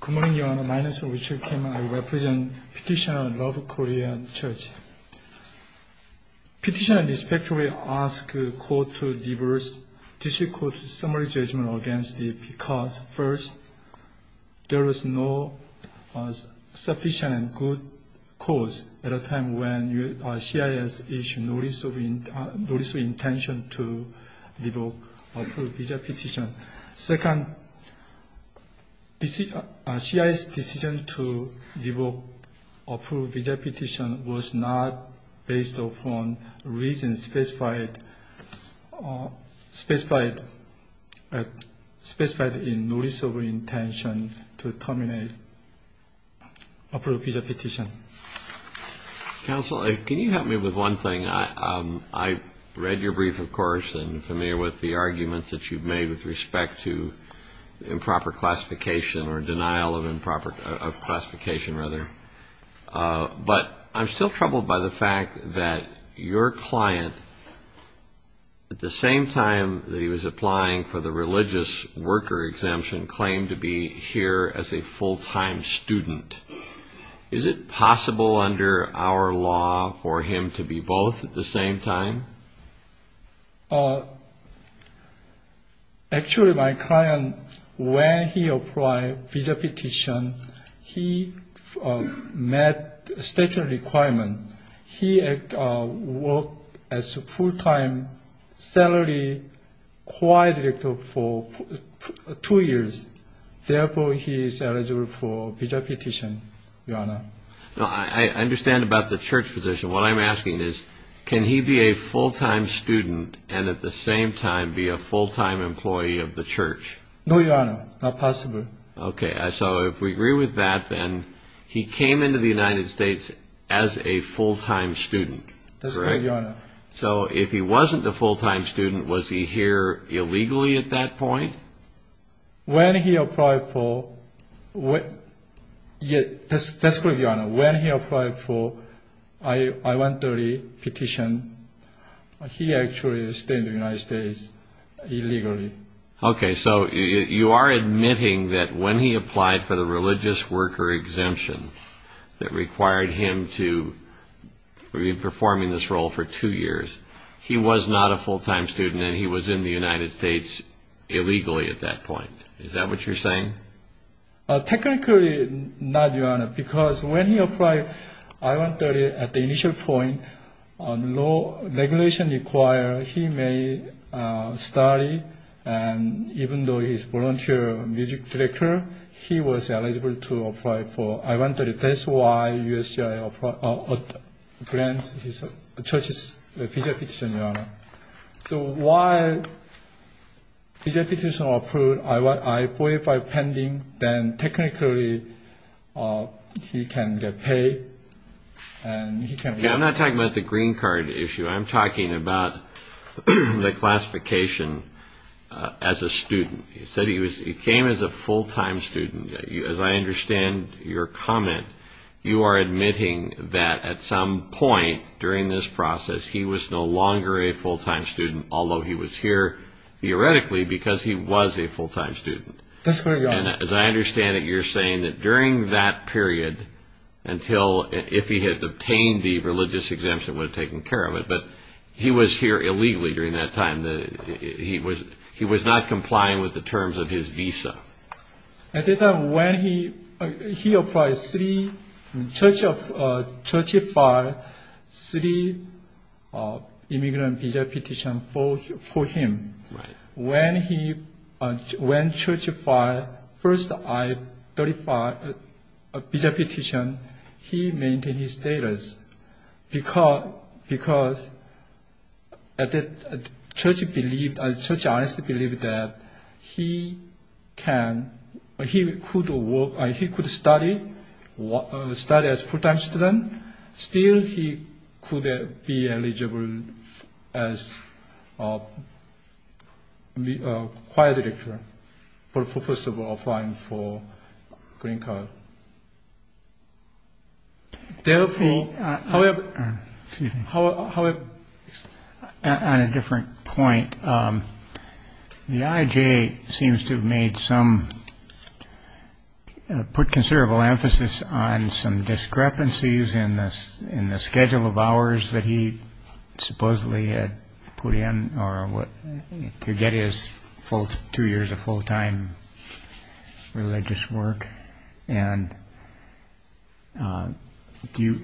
Good morning, Your Honor. My name is Richard Kim. I represent Petitioner Love Korean Church. Petitioner respectfully asks the Court to give a difficult summary judgment against it because first, there is no sufficient and good cause at a time when CISC is not of intention to revoke approved visa petition. Second, CISC's decision to revoke approved visa petition was not based upon reasons specified in notice of intention to terminate approved visa petition. I am troubled by the fact that your client claimed to be here as a full-time student. Is it possible under our law for him to be both at the same time? Actually, my client, when he applied for a visa petition, he met the statutory requirement. He worked as a full-time salary choir director for two years. Therefore, he is eligible for a visa petition, Your Honor. I understand about the church position. What I'm asking is, can he be a full-time student and at the same time be a full-time employee of the church? No, Your Honor. Not possible. Okay. So if we agree with that, then he came into the United States as a full-time student. That's correct, Your Honor. So if he wasn't a full-time student, was he here illegally at that point? When he applied for I-130 petition, he actually stayed in the United States illegally. Okay. So you are admitting that when he applied for the religious worker exemption that required him to be performing this role for two years, he was not a full-time student and he was in the United States illegally at that point. Is that what you're saying? Technically, not, Your Honor, because when he applied I-130 at the initial point, law regulation required he may study and even though he's eligible to apply for I-130, that's why the church granted his visa petition, Your Honor. So while his visa petition was approved, I-145 was pending, then technically he can get paid. I'm not talking about the green card issue. I'm talking about the classification as a student. He came as a full-time student. As I understand your comment, you are admitting that at some point during this process, he was no longer a full-time student, although he was here theoretically because he was a full-time student. That's correct, Your Honor. And as I understand it, you're saying that during that period until if he had obtained the religious exemption, would have taken care of it, but he was here illegally during that time. He was not complying with the terms of his visa. At that time when he applied, the church filed three immigrant visa petitions for him. When the church filed the first visa petition, he maintained his status because the church honestly believed that he could study as a full-time student, still he could be eligible as a choir director for the purpose of applying for the green card. However, on a different point, the IJ seems to have made some, put considerable emphasis on some discrepancies in the schedule of hours that he supposedly had put in to get his two years of full-time religious work. Do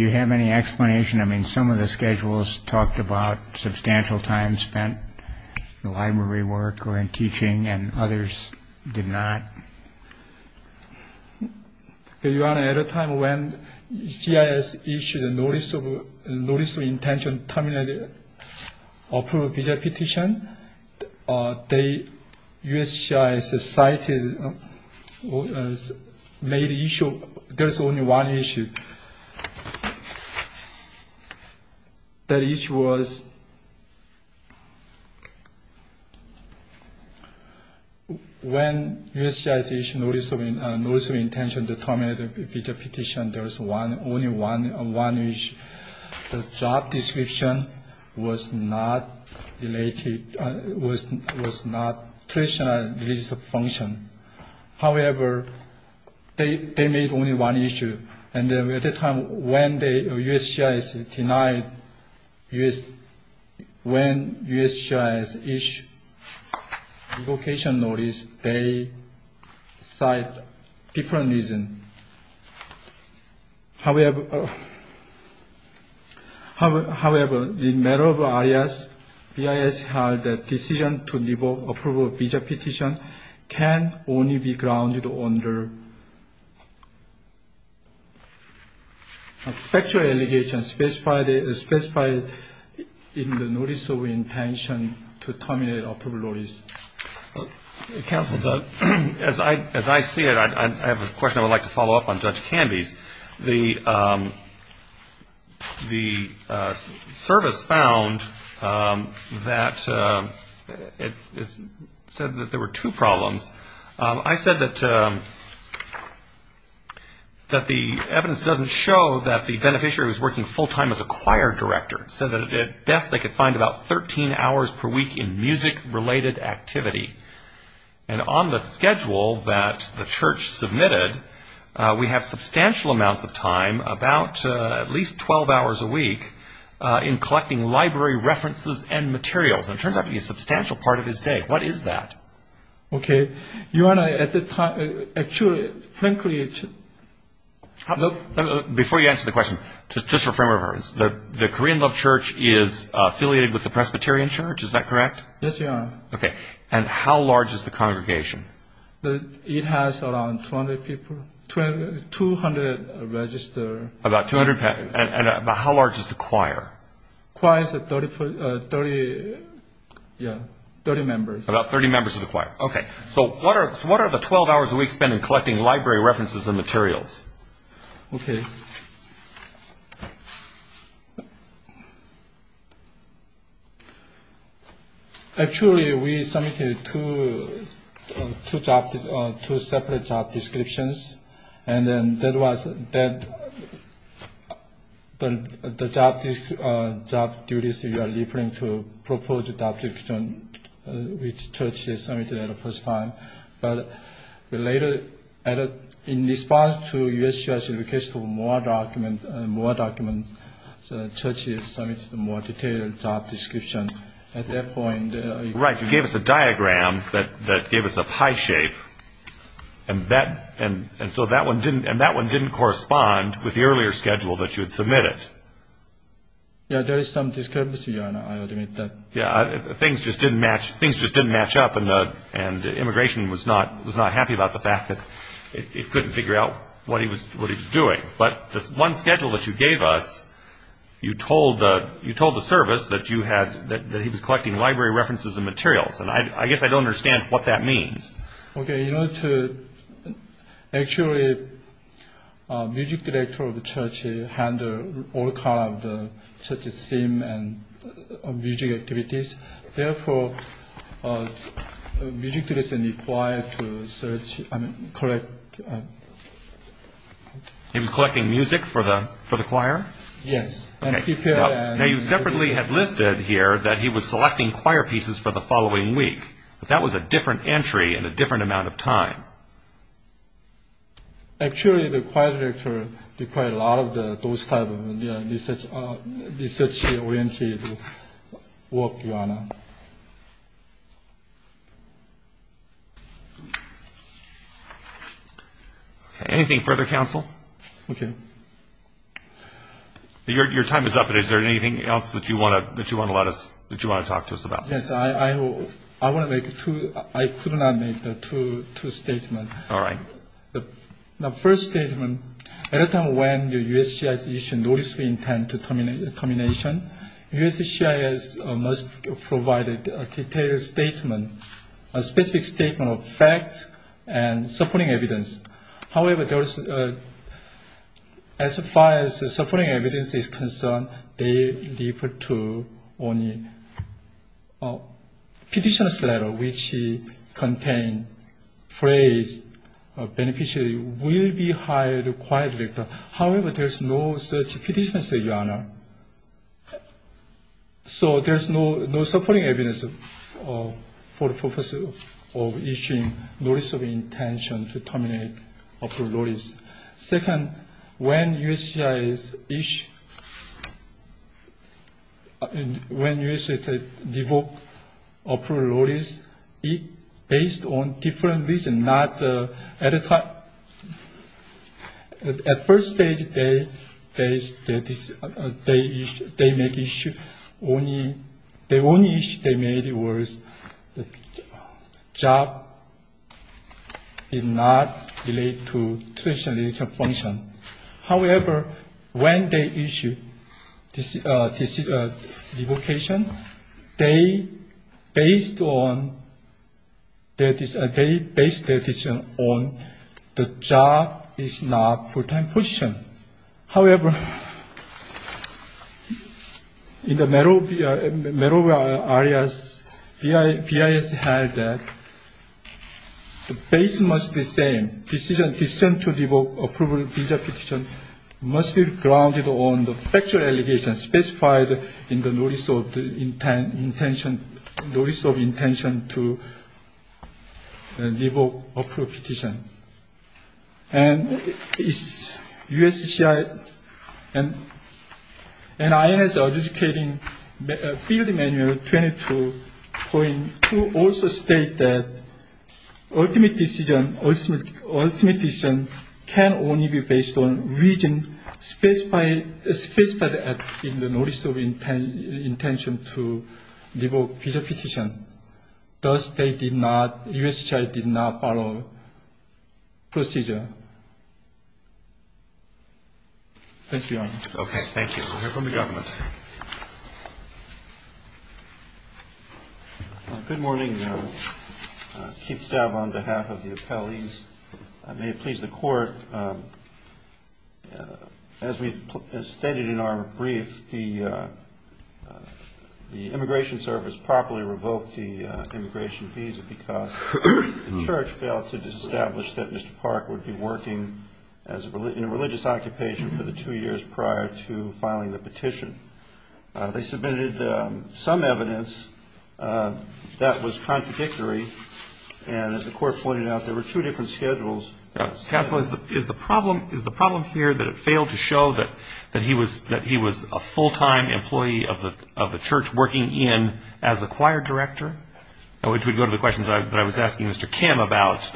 you have any explanation? I mean, some of the schedules talked about substantial time spent in library work or in teaching and others did not. Your Honor, at a time when CIS issued a notice of intention to terminate the approved visa petition, the USCIS cited, made the issue, there's only one issue. That issue was, when USCIS issued a notice of intention to terminate the visa petition, there's only one issue. The job description was not related, was not traditional religious function. However, they made only one issue. And at the time when USCIS denied, when USCIS issued revocation notice, they cite different reason. However, in matter of areas, BIS had a decision to revoke approval of visa petition can only be grounded under a factual allegation specified in the notice of intention to terminate approved notice. Counsel, as I see it, I have a question I would like to follow up on Judge Canby's. The service found that, it said that there were two problems. I said that the evidence doesn't show that the beneficiary was working full time as a choir director. Said that at best they could find about 13 hours per week in music related activity. And on the schedule that the church submitted, we have substantial amounts of time, about at least 12 hours a week, in collecting library references and materials. And it turns out to be a substantial part of his day. What is that? Okay. Actually, frankly, Before you answer the question, just for frame of reference, the Korean Love Church is affiliated with the Presbyterian Church, is that correct? Yes, Your Honor. Okay. And how large is the congregation? It has around 200 people, 200 registered. About 200. And how large is the Yeah, 30 members. About 30 members of the choir. Okay, so what are the 12 hours a week spent in collecting library references and materials? Okay. Actually, we submitted two separate job descriptions, and then that was that the job duties you are referring to, proposed job description, which the church has submitted at the first time. But we later added, in response to U.S. Church's request for more documents, more documents, the church has submitted a more detailed job description at that point. Right, you gave us a diagram that gave us a pie shape, and that, and so that one didn't, correspond with the earlier schedule that you had submitted. Yeah, there is some discrepancy, Your Honor, I admit that. Yeah, things just didn't match, things just didn't match up, and the, and immigration was not, was not happy about the fact that it couldn't figure out what he was, what he was doing. But this one schedule that you gave us, you told, you told the service that you had, that he was collecting library references and materials. And I guess I don't understand what that means. Okay, in order to, actually, music director of the church handle all kind of the church's theme and music activities. Therefore, music director is required to search, I mean, collect. He was collecting music for the, for the choir? Yes. Okay, now you separately had listed here that he was selecting choir pieces for the following week, but that was a different entry and a different amount of time. Actually, the choir director required a lot of the, those type of research, research-oriented work, Your Honor. Anything further, counsel? Okay. Your time is up, but is there anything else that you want to, that you want to let us, that you want to talk to us about? Yes, I, I want to make two, I could not make the two, two statements. All right. The first statement, at a time when the USCIS issued notice of intent to termination, USCIS must provide a detailed statement, a specific statement of facts and supporting evidence. However, there was, as far as the supporting evidence is concerned, they refer to only petitioner's letter, which he contained phrase, beneficiary will be hired choir director. However, there's no such petitioner's letter, Your Honor. So there's no, no supporting evidence for the purpose of issuing notice of intention to terminate approved notice. Second, when USCIS issued, when USCIS revoked approved notice, it based on different reason, not at a time. At first stage, they, they, they make issue, only, the only issue they made was the job did not relate to traditional leadership function. However, when they issued this, this revocation, they based on, that is, they based their decision on the job is not full-time position. However, in the Merovia, Merovia areas, BIS held that the base must be same, decision, decision to revoke approval visa petition must be grounded on the factual allegation specified in the notice of the intention, notice of intention to revoke approved petition. And it's USCIS and INS adjudicating field manual 22.2 also state that ultimate decision, ultimate decision can only be based on reason specified, specified in the notice of intention to revoke visa petition. Thus, they did not, USCIS did not follow procedure. Thank you, Your Honor. Okay, thank you. We'll hear from the government. Good morning, Keith Staub on behalf of the appellees. I may please the court. As we've stated in our brief, the immigration service properly revoked the immigration visa because the church failed to establish that Mr. Park would be working in a religious occupation for the two years prior to filing the petition. They submitted some evidence that was contradictory. And as the court pointed out, there were two different schedules. Counsel, is the problem here that it failed to show that he was a full-time employee of the church working in as a choir director, which would go to the questions that I was asking Mr. Kim about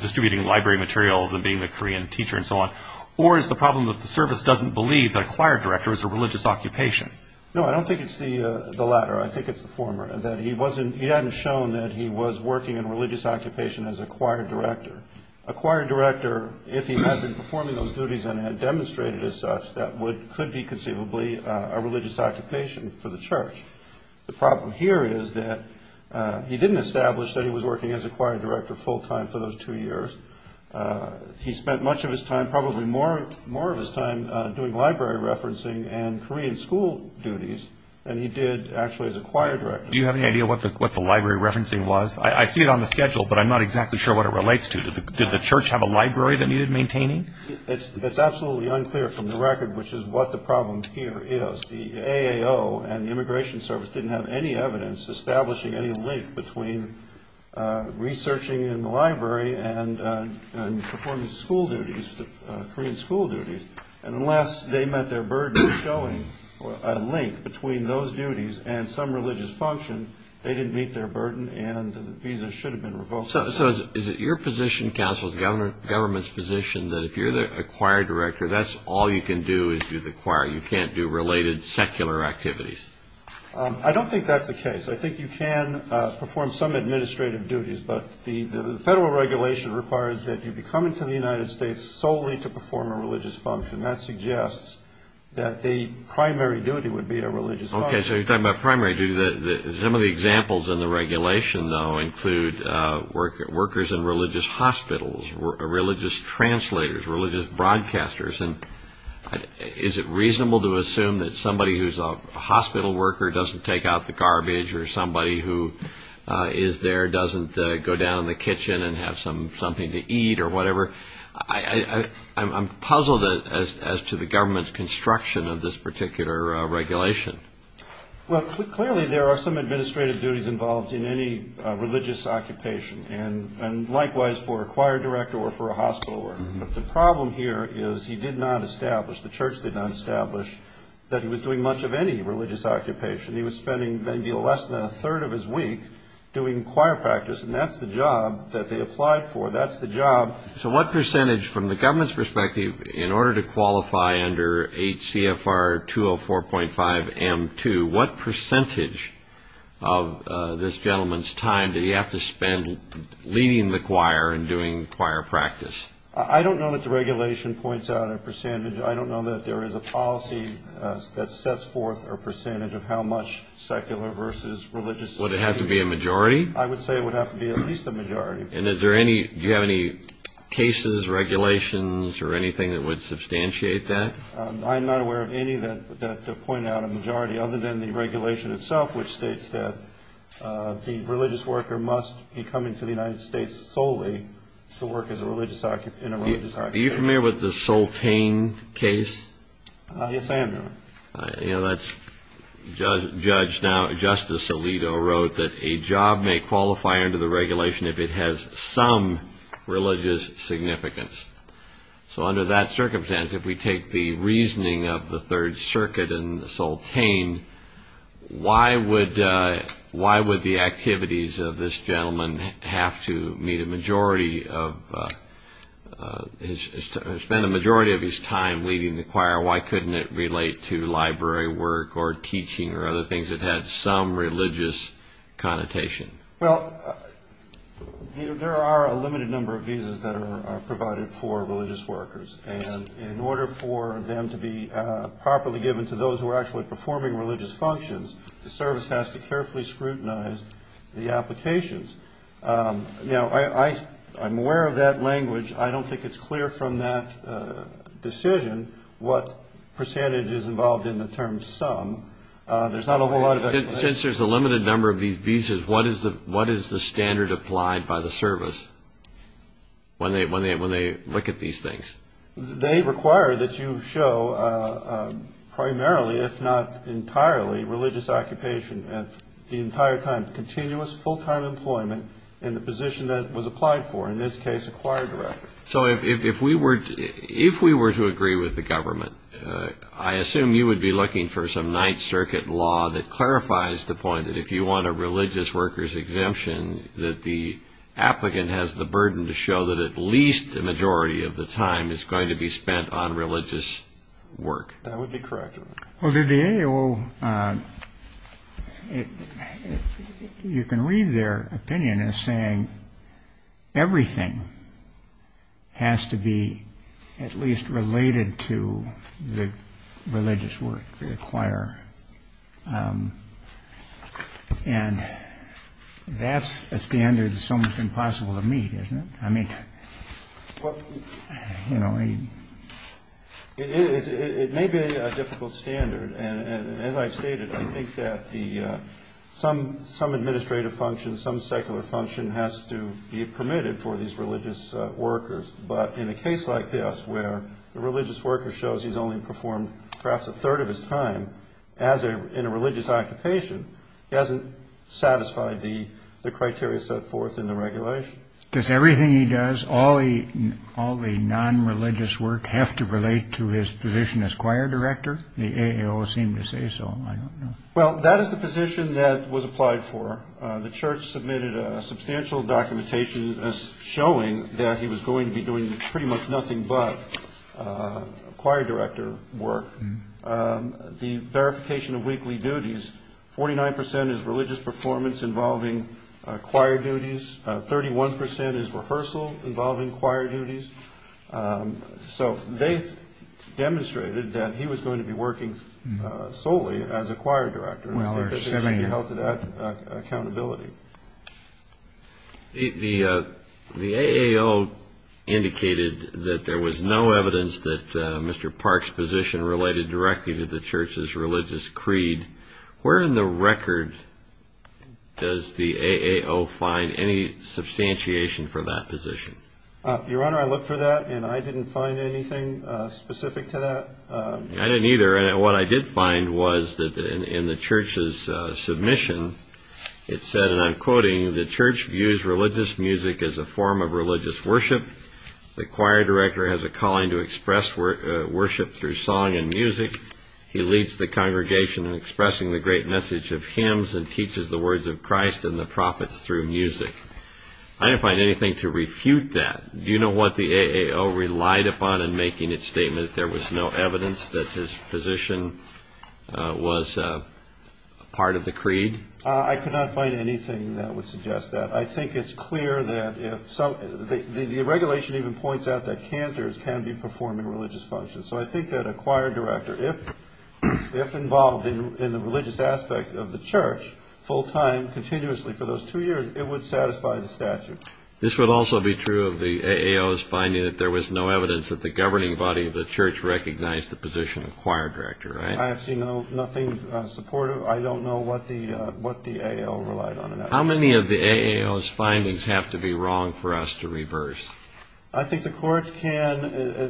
distributing library materials and being the Korean teacher and so on? Or is the problem that the service doesn't believe that a choir director is a religious occupation? No, I don't think it's the latter. I think it's the former, that he hadn't shown that he was working in a religious occupation as a choir director. A choir director, if he had been performing those duties and had demonstrated as such, that could be conceivably a religious occupation for the church. The problem here is that he didn't establish that he was working as a choir director full time for those two years. He spent much of his time, probably more of his time, doing library referencing and Korean school duties than he did actually as a choir director. Do you have any idea what the library referencing was? I see it on the schedule, but I'm not exactly sure what it relates to. Did the church have a library that needed maintaining? It's absolutely unclear from the record, which is what the problem here is. The AAO and the Immigration Service didn't have any evidence establishing any link between researching in the library and performing school duties, Korean school duties. And unless they met their burden of showing a link between those duties and some religious function, they didn't meet their burden and the visa should have been revoked. So is it your position, counsel, the government's position, that if you're a choir director, that's all you can do is do the choir? You can't do related secular activities? I don't think that's the case. I think you can perform some administrative duties, but the federal regulation requires that you be coming to the United States solely to perform a religious function. That suggests that the primary duty would be a religious function. So you're talking about primary duty. Some of the examples in the regulation, though, include workers in religious hospitals, religious translators, religious broadcasters. Is it reasonable to assume that somebody who's a hospital worker doesn't take out the garbage or somebody who is there doesn't go down in the kitchen and have something to eat or whatever? I'm puzzled as to the government's construction of this particular regulation. Well, clearly there are some administrative duties involved in any religious occupation, and likewise for a choir director or for a hospital worker. The problem here is he did not establish, the church did not establish, that he was doing much of any religious occupation. He was spending maybe less than a third of his week doing choir practice, and that's the job that they applied for. That's the job. So what percentage, from the government's perspective, in order to qualify under HCFR 204.5M2, what percentage of this gentleman's time did he have to spend leading the choir and doing choir practice? I don't know that the regulation points out a percentage. I don't know that there is a policy that sets forth a percentage of how much secular versus religious. Would it have to be a majority? I would say it would have to be at least a majority. And is there any, do you have any cases, regulations, or anything that would substantiate that? I'm not aware of any that point out a majority other than the regulation itself, which states that the religious worker must be coming to the United States solely to work as a religious occupant, in a religious occupation. Are you familiar with the Soltane case? Yes, I am, Your Honor. You know, that's, Judge, now, Justice Alito wrote that a job may qualify under the regulation if it has some religious significance. So under that circumstance, if we take the reasoning of the Third Circuit and Soltane, why would the activities of this gentleman have to meet a majority of his, spend a majority of his time leading the choir? Why couldn't it relate to library work or teaching or other things that had some religious connotation? Well, there are a limited number of visas that are provided for religious workers. And in order for them to be properly given to those who are actually performing religious functions, the service has to carefully scrutinize the applications. Now, I'm aware of that language. I don't think it's clear from that decision what percentage is involved in the term sum. There's not a whole lot of explanation. Since there's a limited number of these visas, what is the standard applied by the service when they look at these things? They require that you show primarily, if not entirely, religious occupation at the entire time, continuous full-time employment in the position that was applied for, in this case, a choir director. So if we were to agree with the government, I assume you would be looking for some Ninth Amendment exemptions. And I would also revise the point that if you want a religious worker's exemption, that the applicant has the burden to show that at least a majority of the time is going to be spent on religious work. That would be correct. Well, the AOL, you can read their opinion as saying everything has to be at least related to the religious work, the choir. And that's a standard that's almost impossible to meet, isn't it? I mean, you know, it may be a difficult standard. And as I've stated, I think that some administrative function, some secular function has to be permitted for these religious workers. But in a case like this, where the religious worker shows he's only performed perhaps a third of his time in a religious occupation, he hasn't satisfied the criteria set forth in the regulation. Does everything he does, all the non-religious work, have to relate to his position as choir director? The AOL seemed to say so. I don't know. Well, that is the position that was applied for. The church submitted a substantial documentation showing that he was going to be doing pretty much nothing but choir director work. The verification of weekly duties, 49% is religious performance involving choir duties. 31% is rehearsal involving choir duties. So they demonstrated that he was going to be working solely as a choir director. He held to that accountability. The AAO indicated that there was no evidence that Mr. Park's position related directly to the church's religious creed. Where in the record does the AAO find any substantiation for that position? Your Honor, I looked for that, and I didn't find anything specific to that. I didn't either. What I did find was that in the church's submission, it said, and I'm quoting, the church views religious music as a form of religious worship. The choir director has a calling to express worship through song and music. He leads the congregation in expressing the great message of hymns and teaches the words of Christ and the prophets through music. I didn't find anything to refute that. You know what the AAO relied upon in making its statement? That there was no evidence that his position was part of the creed? I could not find anything that would suggest that. I think it's clear that the regulation even points out that cantors can be performing religious functions. So I think that a choir director, if involved in the religious aspect of the church full time continuously for those two years, it would satisfy the statute. This would also be true of the AAO's finding that there was no evidence that the governing body of the church recognized the position of choir director, right? I have seen nothing supportive. I don't know what the AAO relied on. How many of the AAO's findings have to be wrong for us to reverse? I think the court can,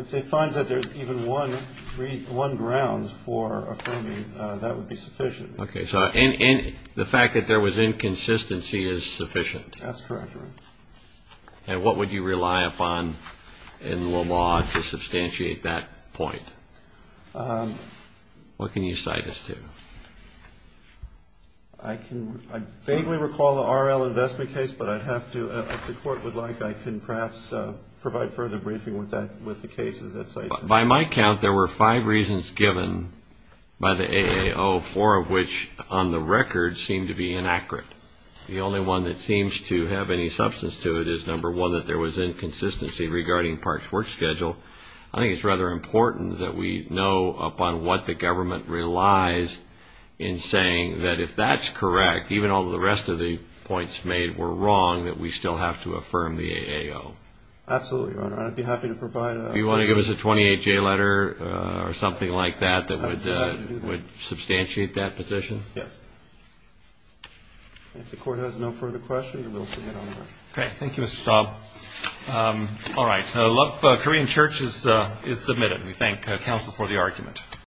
if it finds that there's even one ground for affirming, that would be sufficient. Okay, so the fact that there was inconsistency is sufficient? That's correct. And what would you rely upon in law to substantiate that point? What can you cite us to? I can vaguely recall the RL investment case, but I'd have to, if the court would like, I can perhaps provide further briefing with that, with the cases that cited. By my count, there were five reasons given by the AAO, four of which on the record seem to be inaccurate. The only one that seems to have any substance to it is, number one, that there was inconsistency regarding Park's work schedule. I think it's rather important that we know upon what the government relies in saying that if that's correct, even though the rest of the points made were wrong, that we still have to affirm the AAO. Absolutely, Your Honor. I'd be happy to provide a... Do you want to give us a 28-J letter or something like that, that would substantiate that position? Yes. If the court has no further questions, we'll get on with it. Okay, thank you, Mr. Staub. All right, Love Korean Church is submitted. We thank counsel for the argument.